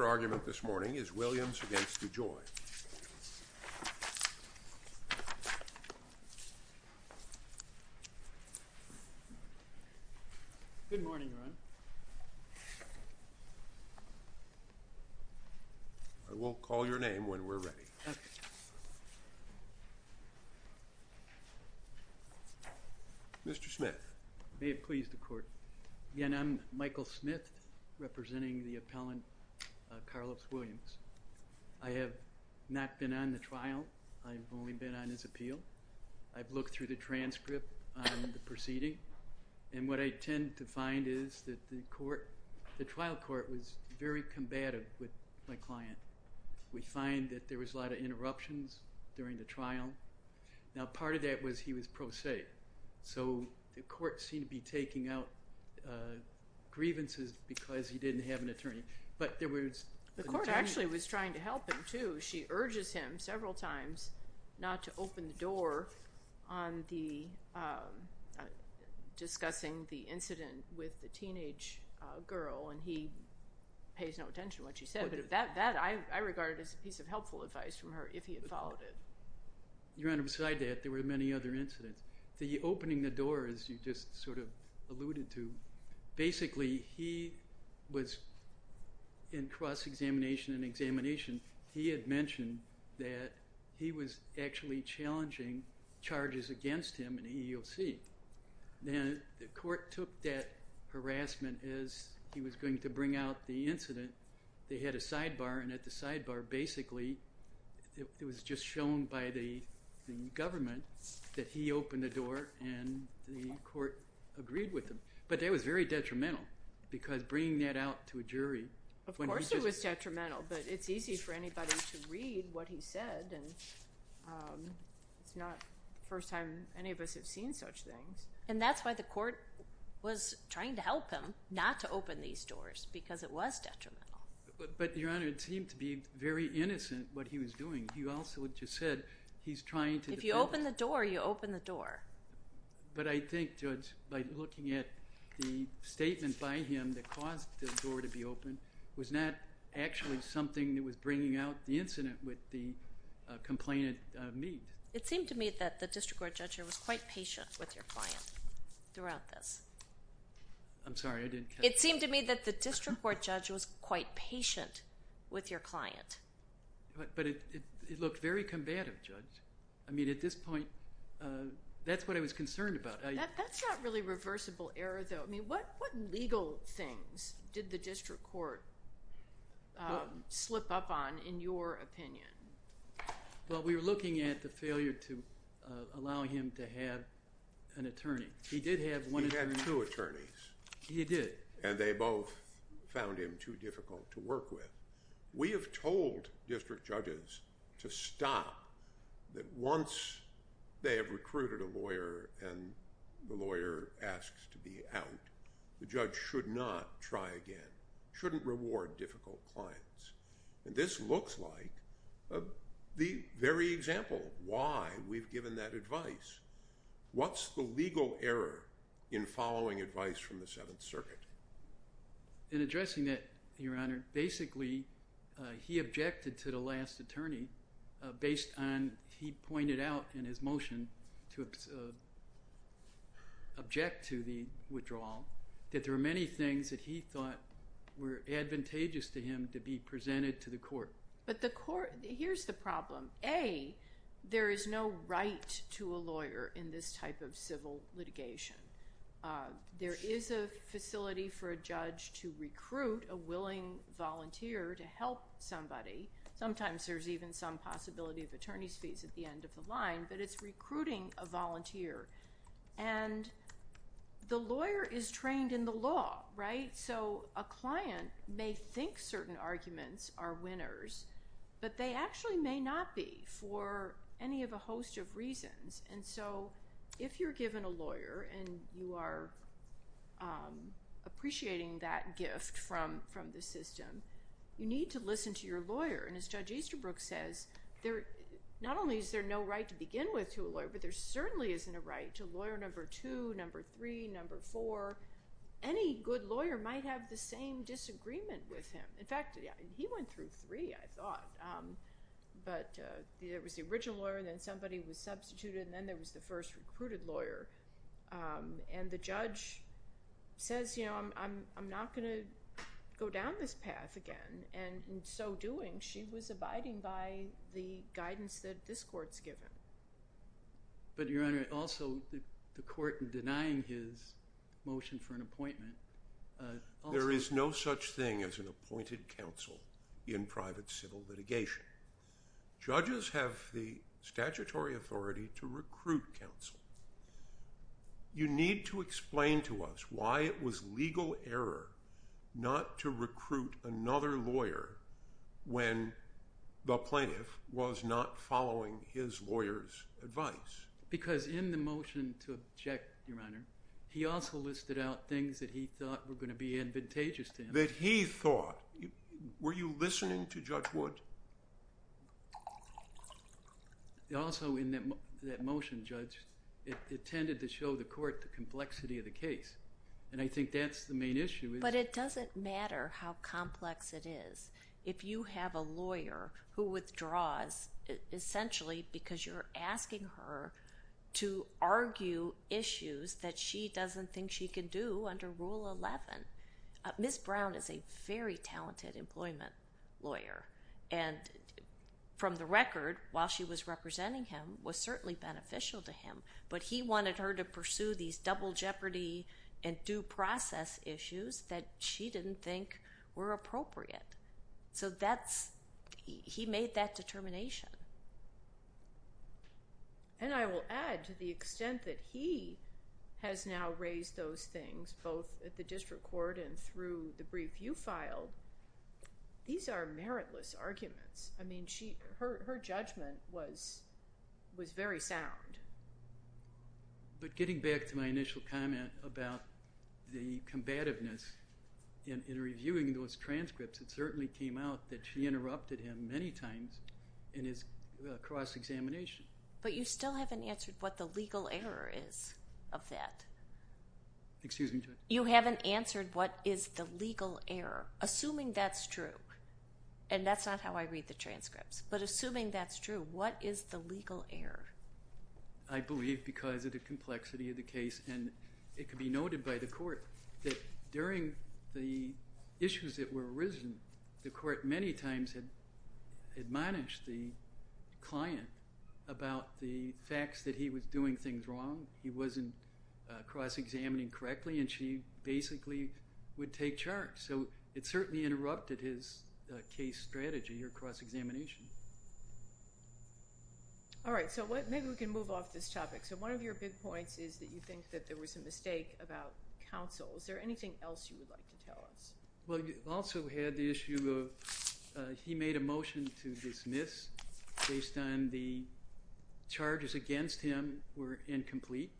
Your argument this morning is Williams v. DeJoy. Good morning, Ron. I will call your name when we're ready. Mr. Smith. May it please the court. Again, I'm Michael Smith representing the appellant, Carlos Williams. I have not been on the trial. I've only been on his appeal. I've looked through the transcript on the proceeding, and what I tend to find is that the trial court was very combative with my client. We find that there was a lot of interruptions during the trial. Now, part of that was he was pro se, so the court seemed to be taking out grievances because he didn't have an attorney, but there was... The court actually was trying to help him, too. She urges him several times not to open the door on discussing the incident with the teenage girl, and he pays no attention to what she said, but that I regarded as a piece of helpful advice from her if he had followed it. Your Honor, beside that, there were many other incidents. The opening the door, as you just sort of alluded to, basically, he was in cross-examination and examination. He had mentioned that he was actually challenging charges against him in EEOC. Now, the court took that harassment as he was going to bring out the incident. They had a sidebar, and at the sidebar, basically, it was just shown by the government that he opened the door, and the court agreed with him, but that was very detrimental because bringing that out to a jury... Of course it was detrimental, but it's easy for anybody to read what he said, and it's not the first time any of us have seen such things. And that's why the court was trying to help him not to open these doors because it was detrimental. But, Your Honor, it seemed to be very innocent, what he was doing. If you open the door, you open the door. But I think, Judge, by looking at the statement by him that caused the door to be opened was not actually something that was bringing out the incident with the complainant means. It seemed to me that the district court judge was quite patient with your client throughout this. I'm sorry, I didn't catch that. It seemed to me that the district court judge was quite patient with your client. But it looked very combative, Judge. I mean, at this point, that's what I was concerned about. That's not really reversible error, though. I mean, what legal things did the district court slip up on, in your opinion? Well, we were looking at the failure to allow him to have an attorney. He did have one attorney. He had two attorneys. He did. And they both found him too difficult to work with. We have told district judges to stop that once they have recruited a lawyer and the lawyer asks to be out, the judge should not try again, shouldn't reward difficult clients. And this looks like the very example of why we've given that advice. What's the legal error in following advice from the Seventh Circuit? In addressing that, Your Honor, basically, he objected to the last attorney based on he pointed out in his motion to object to the withdrawal that there were many things that he thought were advantageous to him to be presented to the court. But the court, here's the problem. A, there is no right to a lawyer in this type of civil litigation. There is a facility for a judge to recruit a willing volunteer to help somebody. Sometimes there's even some possibility of attorney's fees at the end of the line, but it's recruiting a volunteer. And the lawyer is trained in the law, right? So a client may think certain arguments are winners, but they actually may not be for any of a host of reasons. And so if you're given a lawyer and you are appreciating that gift from the system, you need to listen to your lawyer. And as Judge Easterbrook says, not only is there no right to begin with to a lawyer, but there certainly isn't a right to lawyer number two, number three, number four. Any good lawyer might have the same disagreement with him. In fact, he went through three, I thought. But there was the original lawyer, then somebody was substituted, and then there was the first recruited lawyer. And the judge says, I'm not gonna go down this path again. And in so doing, she was abiding by the guidance that this court's given. But Your Honor, also the court in denying his motion for an appointment also- There is no such thing as an appointed counsel in private civil litigation. Judges have the statutory authority to recruit counsel. You need to explain to us why it was legal error not to recruit another lawyer when the plaintiff was not following his lawyer's advice. Because in the motion to object, Your Honor, he also listed out things that he thought were gonna be advantageous to him. That he thought, were you listening to Judge Wood? Also, in that motion, Judge, it tended to show the court the complexity of the case. And I think that's the main issue. But it doesn't matter how complex it is. If you have a lawyer who withdraws essentially because you're asking her to argue issues that she doesn't think she can do under Rule 11. Ms. Brown is a very talented employment lawyer. And from the record, while she was representing him, was certainly beneficial to him. But he wanted her to pursue these double jeopardy and due process issues that she didn't think were appropriate. So that's, he made that determination. And I will add to the extent that he has now raised those things, both at the district court and through the brief you filed, these are meritless arguments. I mean, her judgment was very sound. But getting back to my initial comment about the combativeness in reviewing those transcripts, it certainly came out that she interrupted him many times in his cross-examination. But you still haven't answered what the legal error is of that. Excuse me, Judge. You haven't answered what is the legal error, assuming that's true. And that's not how I read the transcripts. But assuming that's true, what is the legal error? I believe because of the complexity of the case. And it could be noted by the court that during the issues that were arisen, the court many times had admonished the client about the facts that he was doing things wrong. He wasn't cross-examining correctly, and she basically would take charge. So it certainly interrupted his case strategy or cross-examination. All right, so maybe we can move off this topic. So one of your big points is that you think that there was a mistake about counsel. Is there anything else you would like to tell us? Well, you also had the issue of he made a motion to dismiss based on the charges against him were incomplete.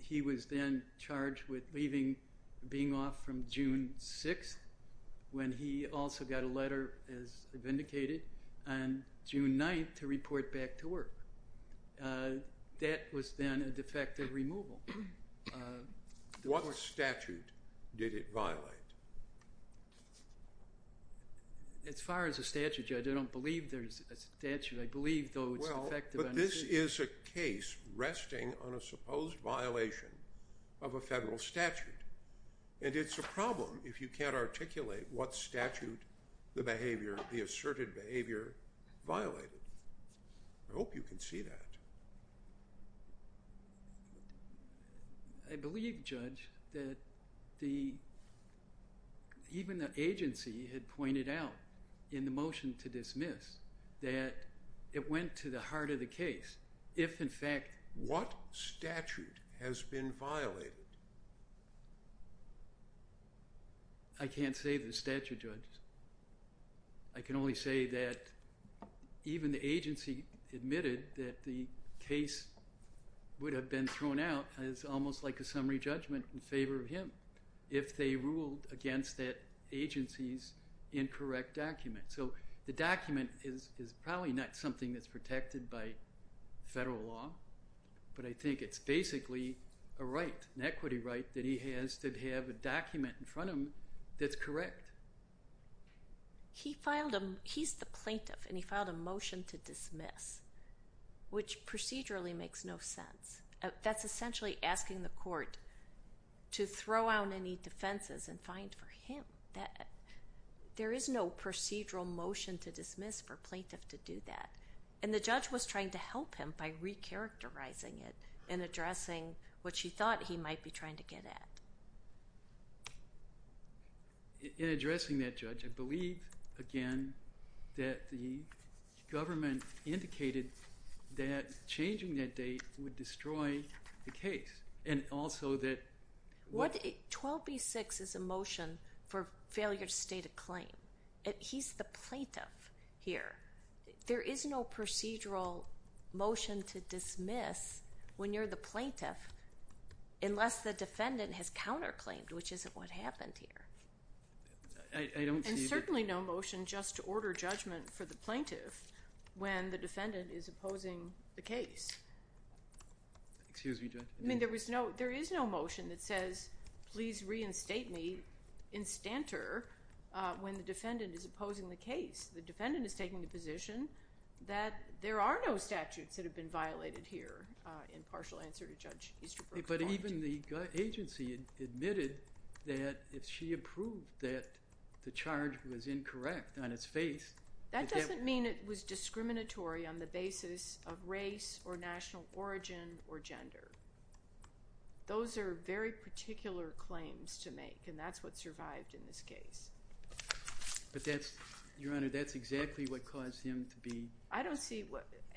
He was then charged with being off from June 6th when he also got a letter, as I've indicated, on June 9th to report back to work. That was then a defective removal. What statute did it violate? As far as a statute, Judge, I don't believe there's a statute. I believe, though, it's defective. This is a case resting on a supposed violation of a federal statute, and it's a problem if you can't articulate what statute the behavior, the asserted behavior violated. I hope you can see that. I believe, Judge, that even the agency had pointed out in the motion to dismiss that it went to the heart of the case if, in fact. What statute has been violated? I can't say the statute, Judge. I can only say that even the agency admitted that the case would have been thrown out as almost like a summary judgment in favor of him if they ruled against that agency's incorrect document. So the document is probably not something that's protected by federal law, but I think it's basically a right, an equity right that he has to have a document in front of him that's correct. He filed a, he's the plaintiff, and he filed a motion to dismiss, which procedurally makes no sense. That's essentially asking the court to throw out any defenses and find for him that. There is no procedural motion to dismiss for a plaintiff to do that, and the judge was trying to help him by recharacterizing it and addressing what she thought he might be trying to get at. In addressing that, Judge, I believe, again, that the government indicated that changing that date would destroy the case, and also that what. 12B6 is a motion for failure to state a claim. He's the plaintiff here. There is no procedural motion to dismiss when you're the plaintiff, unless the defendant has counterclaimed, which isn't what happened here. I don't see that. And certainly no motion just to order judgment for the plaintiff when the defendant is opposing the case. Excuse me, Judge. I mean, there is no motion that says, please reinstate me in stanter when the defendant is opposing the case. The defendant is taking the position that there are no statutes that have been violated here, in partial answer to Judge Easterbrook's point. But even the agency admitted that if she approved that the charge was incorrect on its face, That doesn't mean it was discriminatory on the basis of race or national origin or gender. Those are very particular claims to make, and that's what survived in this case. But that's, Your Honor, that's exactly what caused him to be. I don't see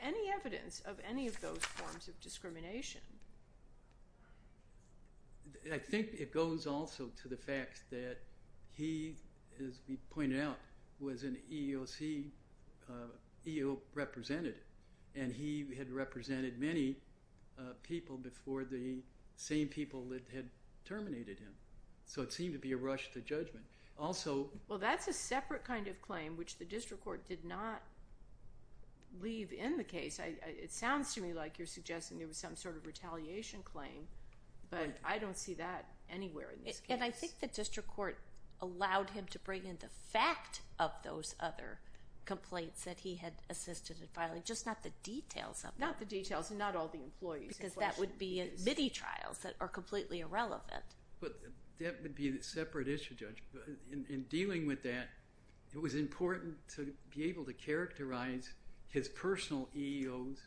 any evidence of any of those forms of discrimination. I think it goes also to the fact that he, as we pointed out, was an EEOC representative, and he had represented many people before the same people that had terminated him. So it seemed to be a rush to judgment. Also- Well, that's a separate kind of claim which the district court did not leave in the case. It sounds to me like you're suggesting there was some sort of retaliation claim, but I don't see that anywhere in this case. And I think the district court allowed him to bring in the fact of those other complaints that he had assisted in filing, just not the details of them. Not the details, and not all the employees in question. Because that would be a MIDI trials that are completely irrelevant. But that would be a separate issue, Judge. In dealing with that, it was important to be able to characterize his personal EEOs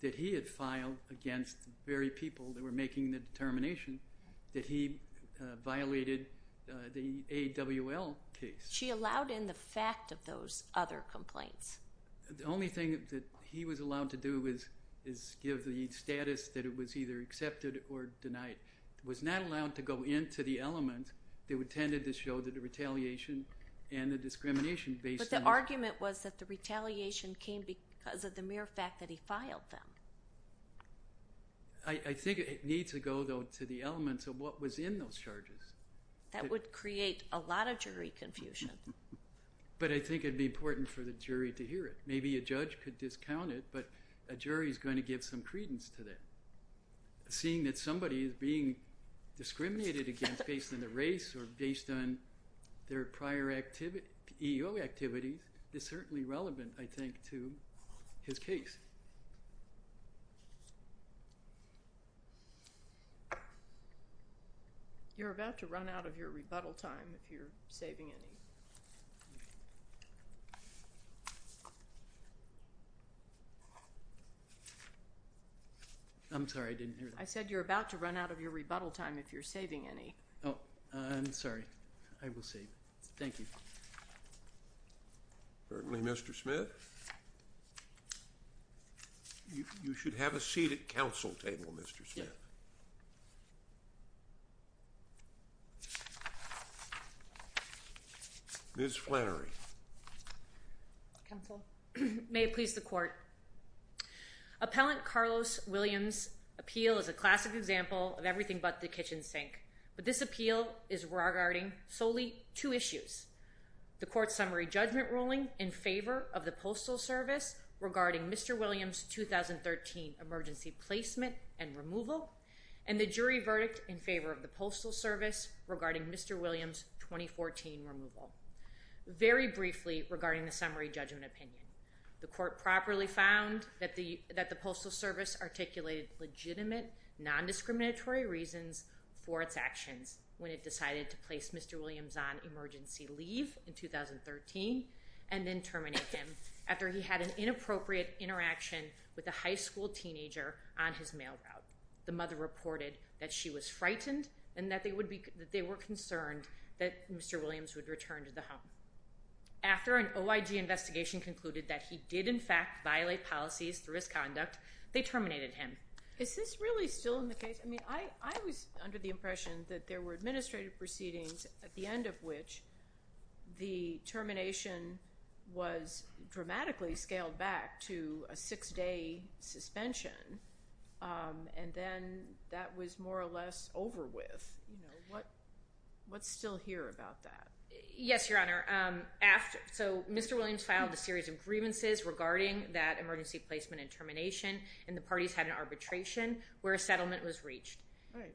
that he had filed against the very people that were making the determination that he violated the AWL case. She allowed in the fact of those other complaints. The only thing that he was allowed to do is give the status that it was either accepted or denied. Was not allowed to go into the element that tended to show that the retaliation and the discrimination based on- But the argument was that the retaliation came because of the mere fact that he filed them. I think it needs to go, though, to the elements of what was in those charges. That would create a lot of jury confusion. But I think it'd be important for the jury to hear it. Maybe a judge could discount it, but a jury's gonna give some credence to that. Seeing that somebody is being discriminated against based on the race or based on their prior EEO activities is certainly relevant, I think, to his case. You're about to run out of your rebuttal time if you're saving any. I'm sorry, I didn't hear that. I said you're about to run out of your rebuttal time if you're saving any. Oh, I'm sorry. I will save. Thank you. Certainly, Mr. Smith. You should have a seat at council table, Mr. Smith. Yeah. Ms. Flannery. Counsel. May it please the court. Appellant Carlos Williams' appeal is a classic example of everything but the kitchen sink. But this appeal is regarding solely two issues. The court's summary judgment ruling in favor of the Postal Service regarding Mr. Williams' 2013 emergency placement and removal, and the jury verdict in favor of the Postal Service regarding Mr. Williams' 2014 removal. Very briefly, regarding the summary judgment opinion. The court properly found that the Postal Service articulated legitimate, non-discriminatory reasons for its actions when it decided to place Mr. Williams on emergency leave in 2013 and then terminate him after he had an inappropriate interaction with a high school teenager on his mail route. The mother reported that she was frightened and that they were concerned that Mr. Williams would return to the home. After an OIG investigation concluded that he did in fact violate policies through his conduct, they terminated him. Is this really still in the case? I mean, I was under the impression that there were administrative proceedings at the end of which the termination was dramatically scaled back to a six-day suspension and then that was more or less over with. What's still here about that? Yes, Your Honor, so Mr. Williams filed a series of grievances regarding that emergency placement and termination, and the parties had an arbitration where a settlement was reached.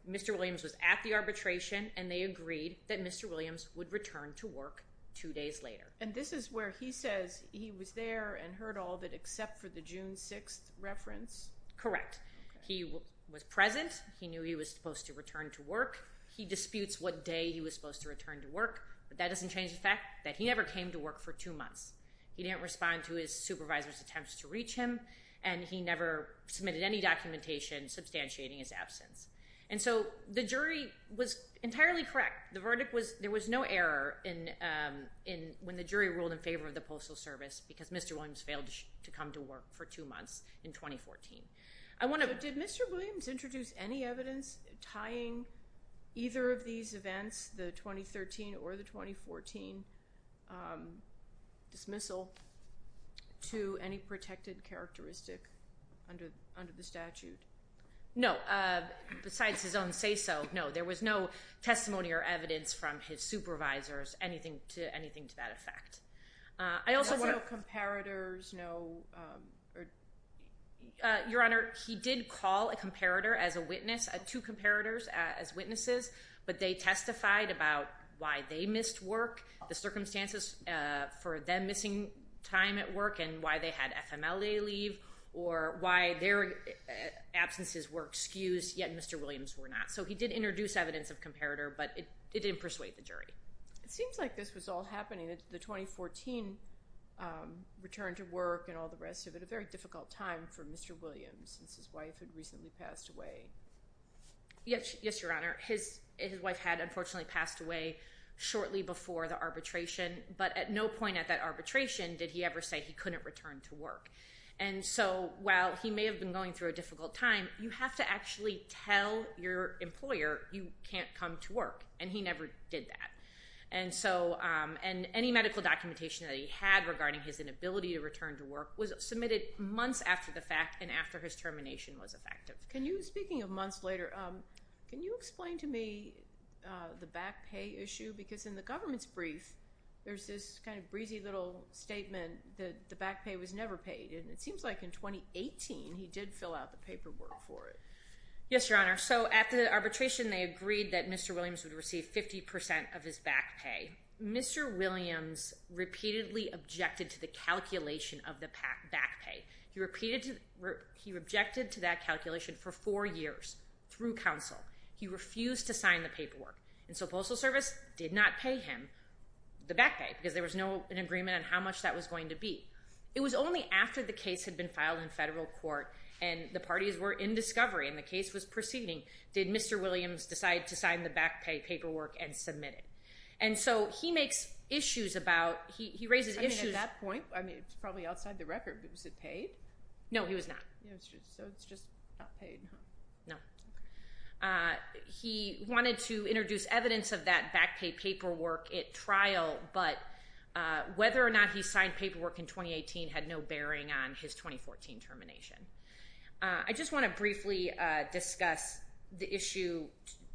Mr. Williams was at the arbitration and they agreed that Mr. Williams would return to work two days later. And this is where he says he was there and heard all of it except for the June 6th reference? Correct. He was present. He knew he was supposed to return to work. He disputes what day he was supposed to return to work, but that doesn't change the fact that he never came to work for two months. He didn't respond to his supervisor's attempts to reach him and he never submitted any documentation substantiating his absence. And so the jury was entirely correct. The verdict was there was no error when the jury ruled in favor of the Postal Service because Mr. Williams failed to come to work for two months in 2014. I want to- Did Mr. Williams introduce any evidence tying either of these events, the 2013 or the 2014 dismissal to any protected characteristic under the statute? No, besides his own say-so, no. There was no testimony or evidence from his supervisors, anything to that effect. I also- No comparators, no? Your Honor, he did call a comparator as a witness, two comparators as witnesses, but they testified about why they missed work, the circumstances for them missing time at work and why they had FMLA leave or why their absences were excused, yet Mr. Williams were not. So he did introduce evidence of comparator, but it didn't persuade the jury. It seems like this was all happening at the 2014 return to work and all the rest of it, a very difficult time for Mr. Williams since his wife had recently passed away. Yes, Your Honor. His wife had unfortunately passed away shortly before the arbitration, but at no point at that arbitration did he ever say he couldn't return to work. And so while he may have been going through a difficult time, you have to actually tell your employer you can't come to work, and he never did that. And so, and any medical documentation that he had regarding his inability to return to work was submitted months after the fact and after his termination was effective. Can you, speaking of months later, can you explain to me the back pay issue? Because in the government's brief, there's this kind of breezy little statement that the back pay was never paid. And it seems like in 2018, he did fill out the paperwork for it. Yes, Your Honor. So at the arbitration, they agreed that Mr. Williams would receive 50% of his back pay. Mr. Williams repeatedly objected to the calculation of the back pay. He repeated, he objected to that calculation for four years through counsel. He refused to sign the paperwork. And so Postal Service did not pay him the back pay because there was no agreement on how much that was going to be. It was only after the case had been filed in federal court and the parties were in discovery and the case was proceeding did Mr. Williams decide to sign the back pay paperwork and submit it. And so he makes issues about, he raises issues. I mean, at that point, I mean, it's probably outside the record, but was it paid? No, he was not. So it's just not paid, huh? No. He wanted to introduce evidence of that back pay paperwork at trial, but whether or not he signed paperwork in 2018 had no bearing on his 2014 termination. I just wanna briefly discuss the issue,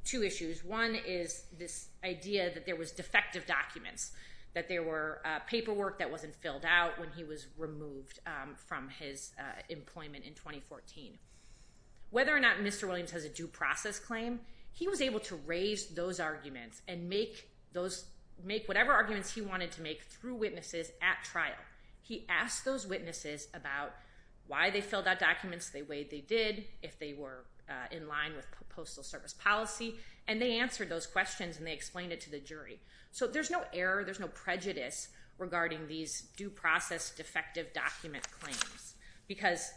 two issues. One is this idea that there was defective documents, that there were paperwork that wasn't filled out when he was removed from his employment in 2014. Whether or not Mr. Williams has a due process claim, he was able to raise those arguments and make whatever arguments he wanted to make through witnesses at trial. He asked those witnesses about why they filled out documents the way they did, if they were in line with Postal Service policy, and they answered those questions and they explained it to the jury. So there's no error, there's no prejudice regarding these due process defective document claims, because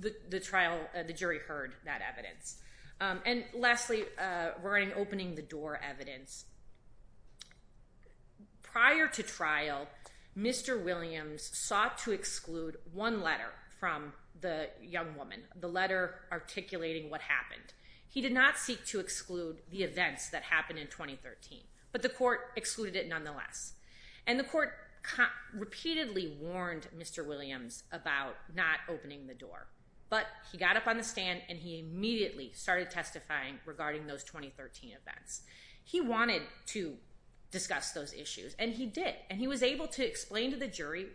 the jury heard that evidence. And lastly, regarding opening the door evidence. Prior to trial, Mr. Williams sought to exclude one letter from the young woman, the letter articulating what happened. He did not seek to exclude the events that happened in 2013, but the court excluded it nonetheless. And the court repeatedly warned Mr. Williams about not opening the door, but he got up on the stand and he immediately started testifying regarding those 2013 events. He wanted to discuss those issues, and he did, and he was able to explain to the jury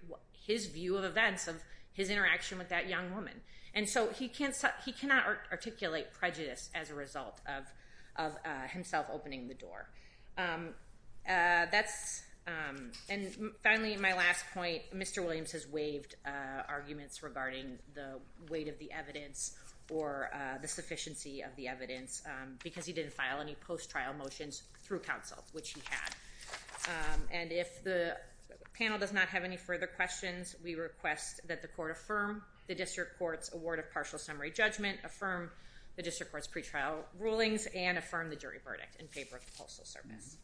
his view of events of his interaction with that young woman. And so he cannot articulate prejudice as a result of himself opening the door. And finally, my last point, Mr. Williams has waived arguments regarding the weight of the evidence or the sufficiency of the evidence because he didn't file any post-trial motions through counsel, which he had. And if the panel does not have any further questions, we request that the court affirm the district court's award of partial summary judgment, affirm the district court's pretrial rulings, and affirm the jury verdict in favor of the Postal Service.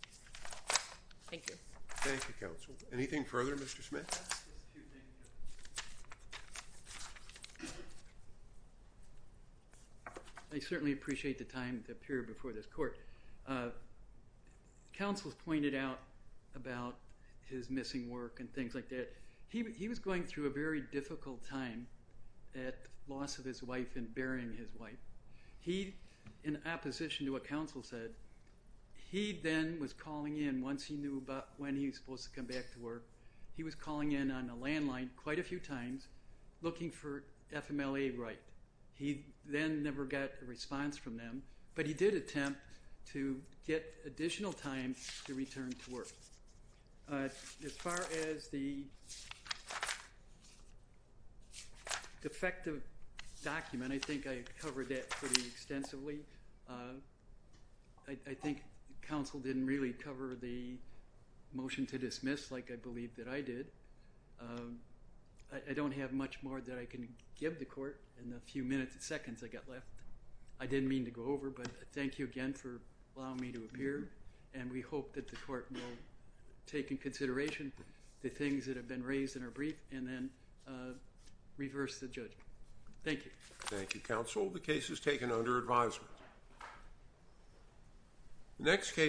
Thank you. Thank you, counsel. Anything further, Mr. Smith? I have just a few things. I certainly appreciate the time to appear before this court. Counsel's pointed out about his missing work and things like that. He was going through a very difficult time at the loss of his wife and burying his wife. He, in opposition to what counsel said, he then was calling in once he knew about when he was supposed to come back to work, he was calling in on a landline quite a few times looking for FMLA right. He then never got a response from them, but he did attempt to get additional time to return to work. As far as the defective document, I think I covered that pretty extensively. I think counsel didn't really cover the motion to dismiss like I believe that I did. I don't have much more that I can give the court in the few minutes and seconds I got left. I didn't mean to go over, but thank you again for allowing me to appear, and we hope that the court will take in consideration the things that have been raised in our brief, and then reverse the judgment. Thank you. Thank you, counsel. The case is taken under advisement. The next case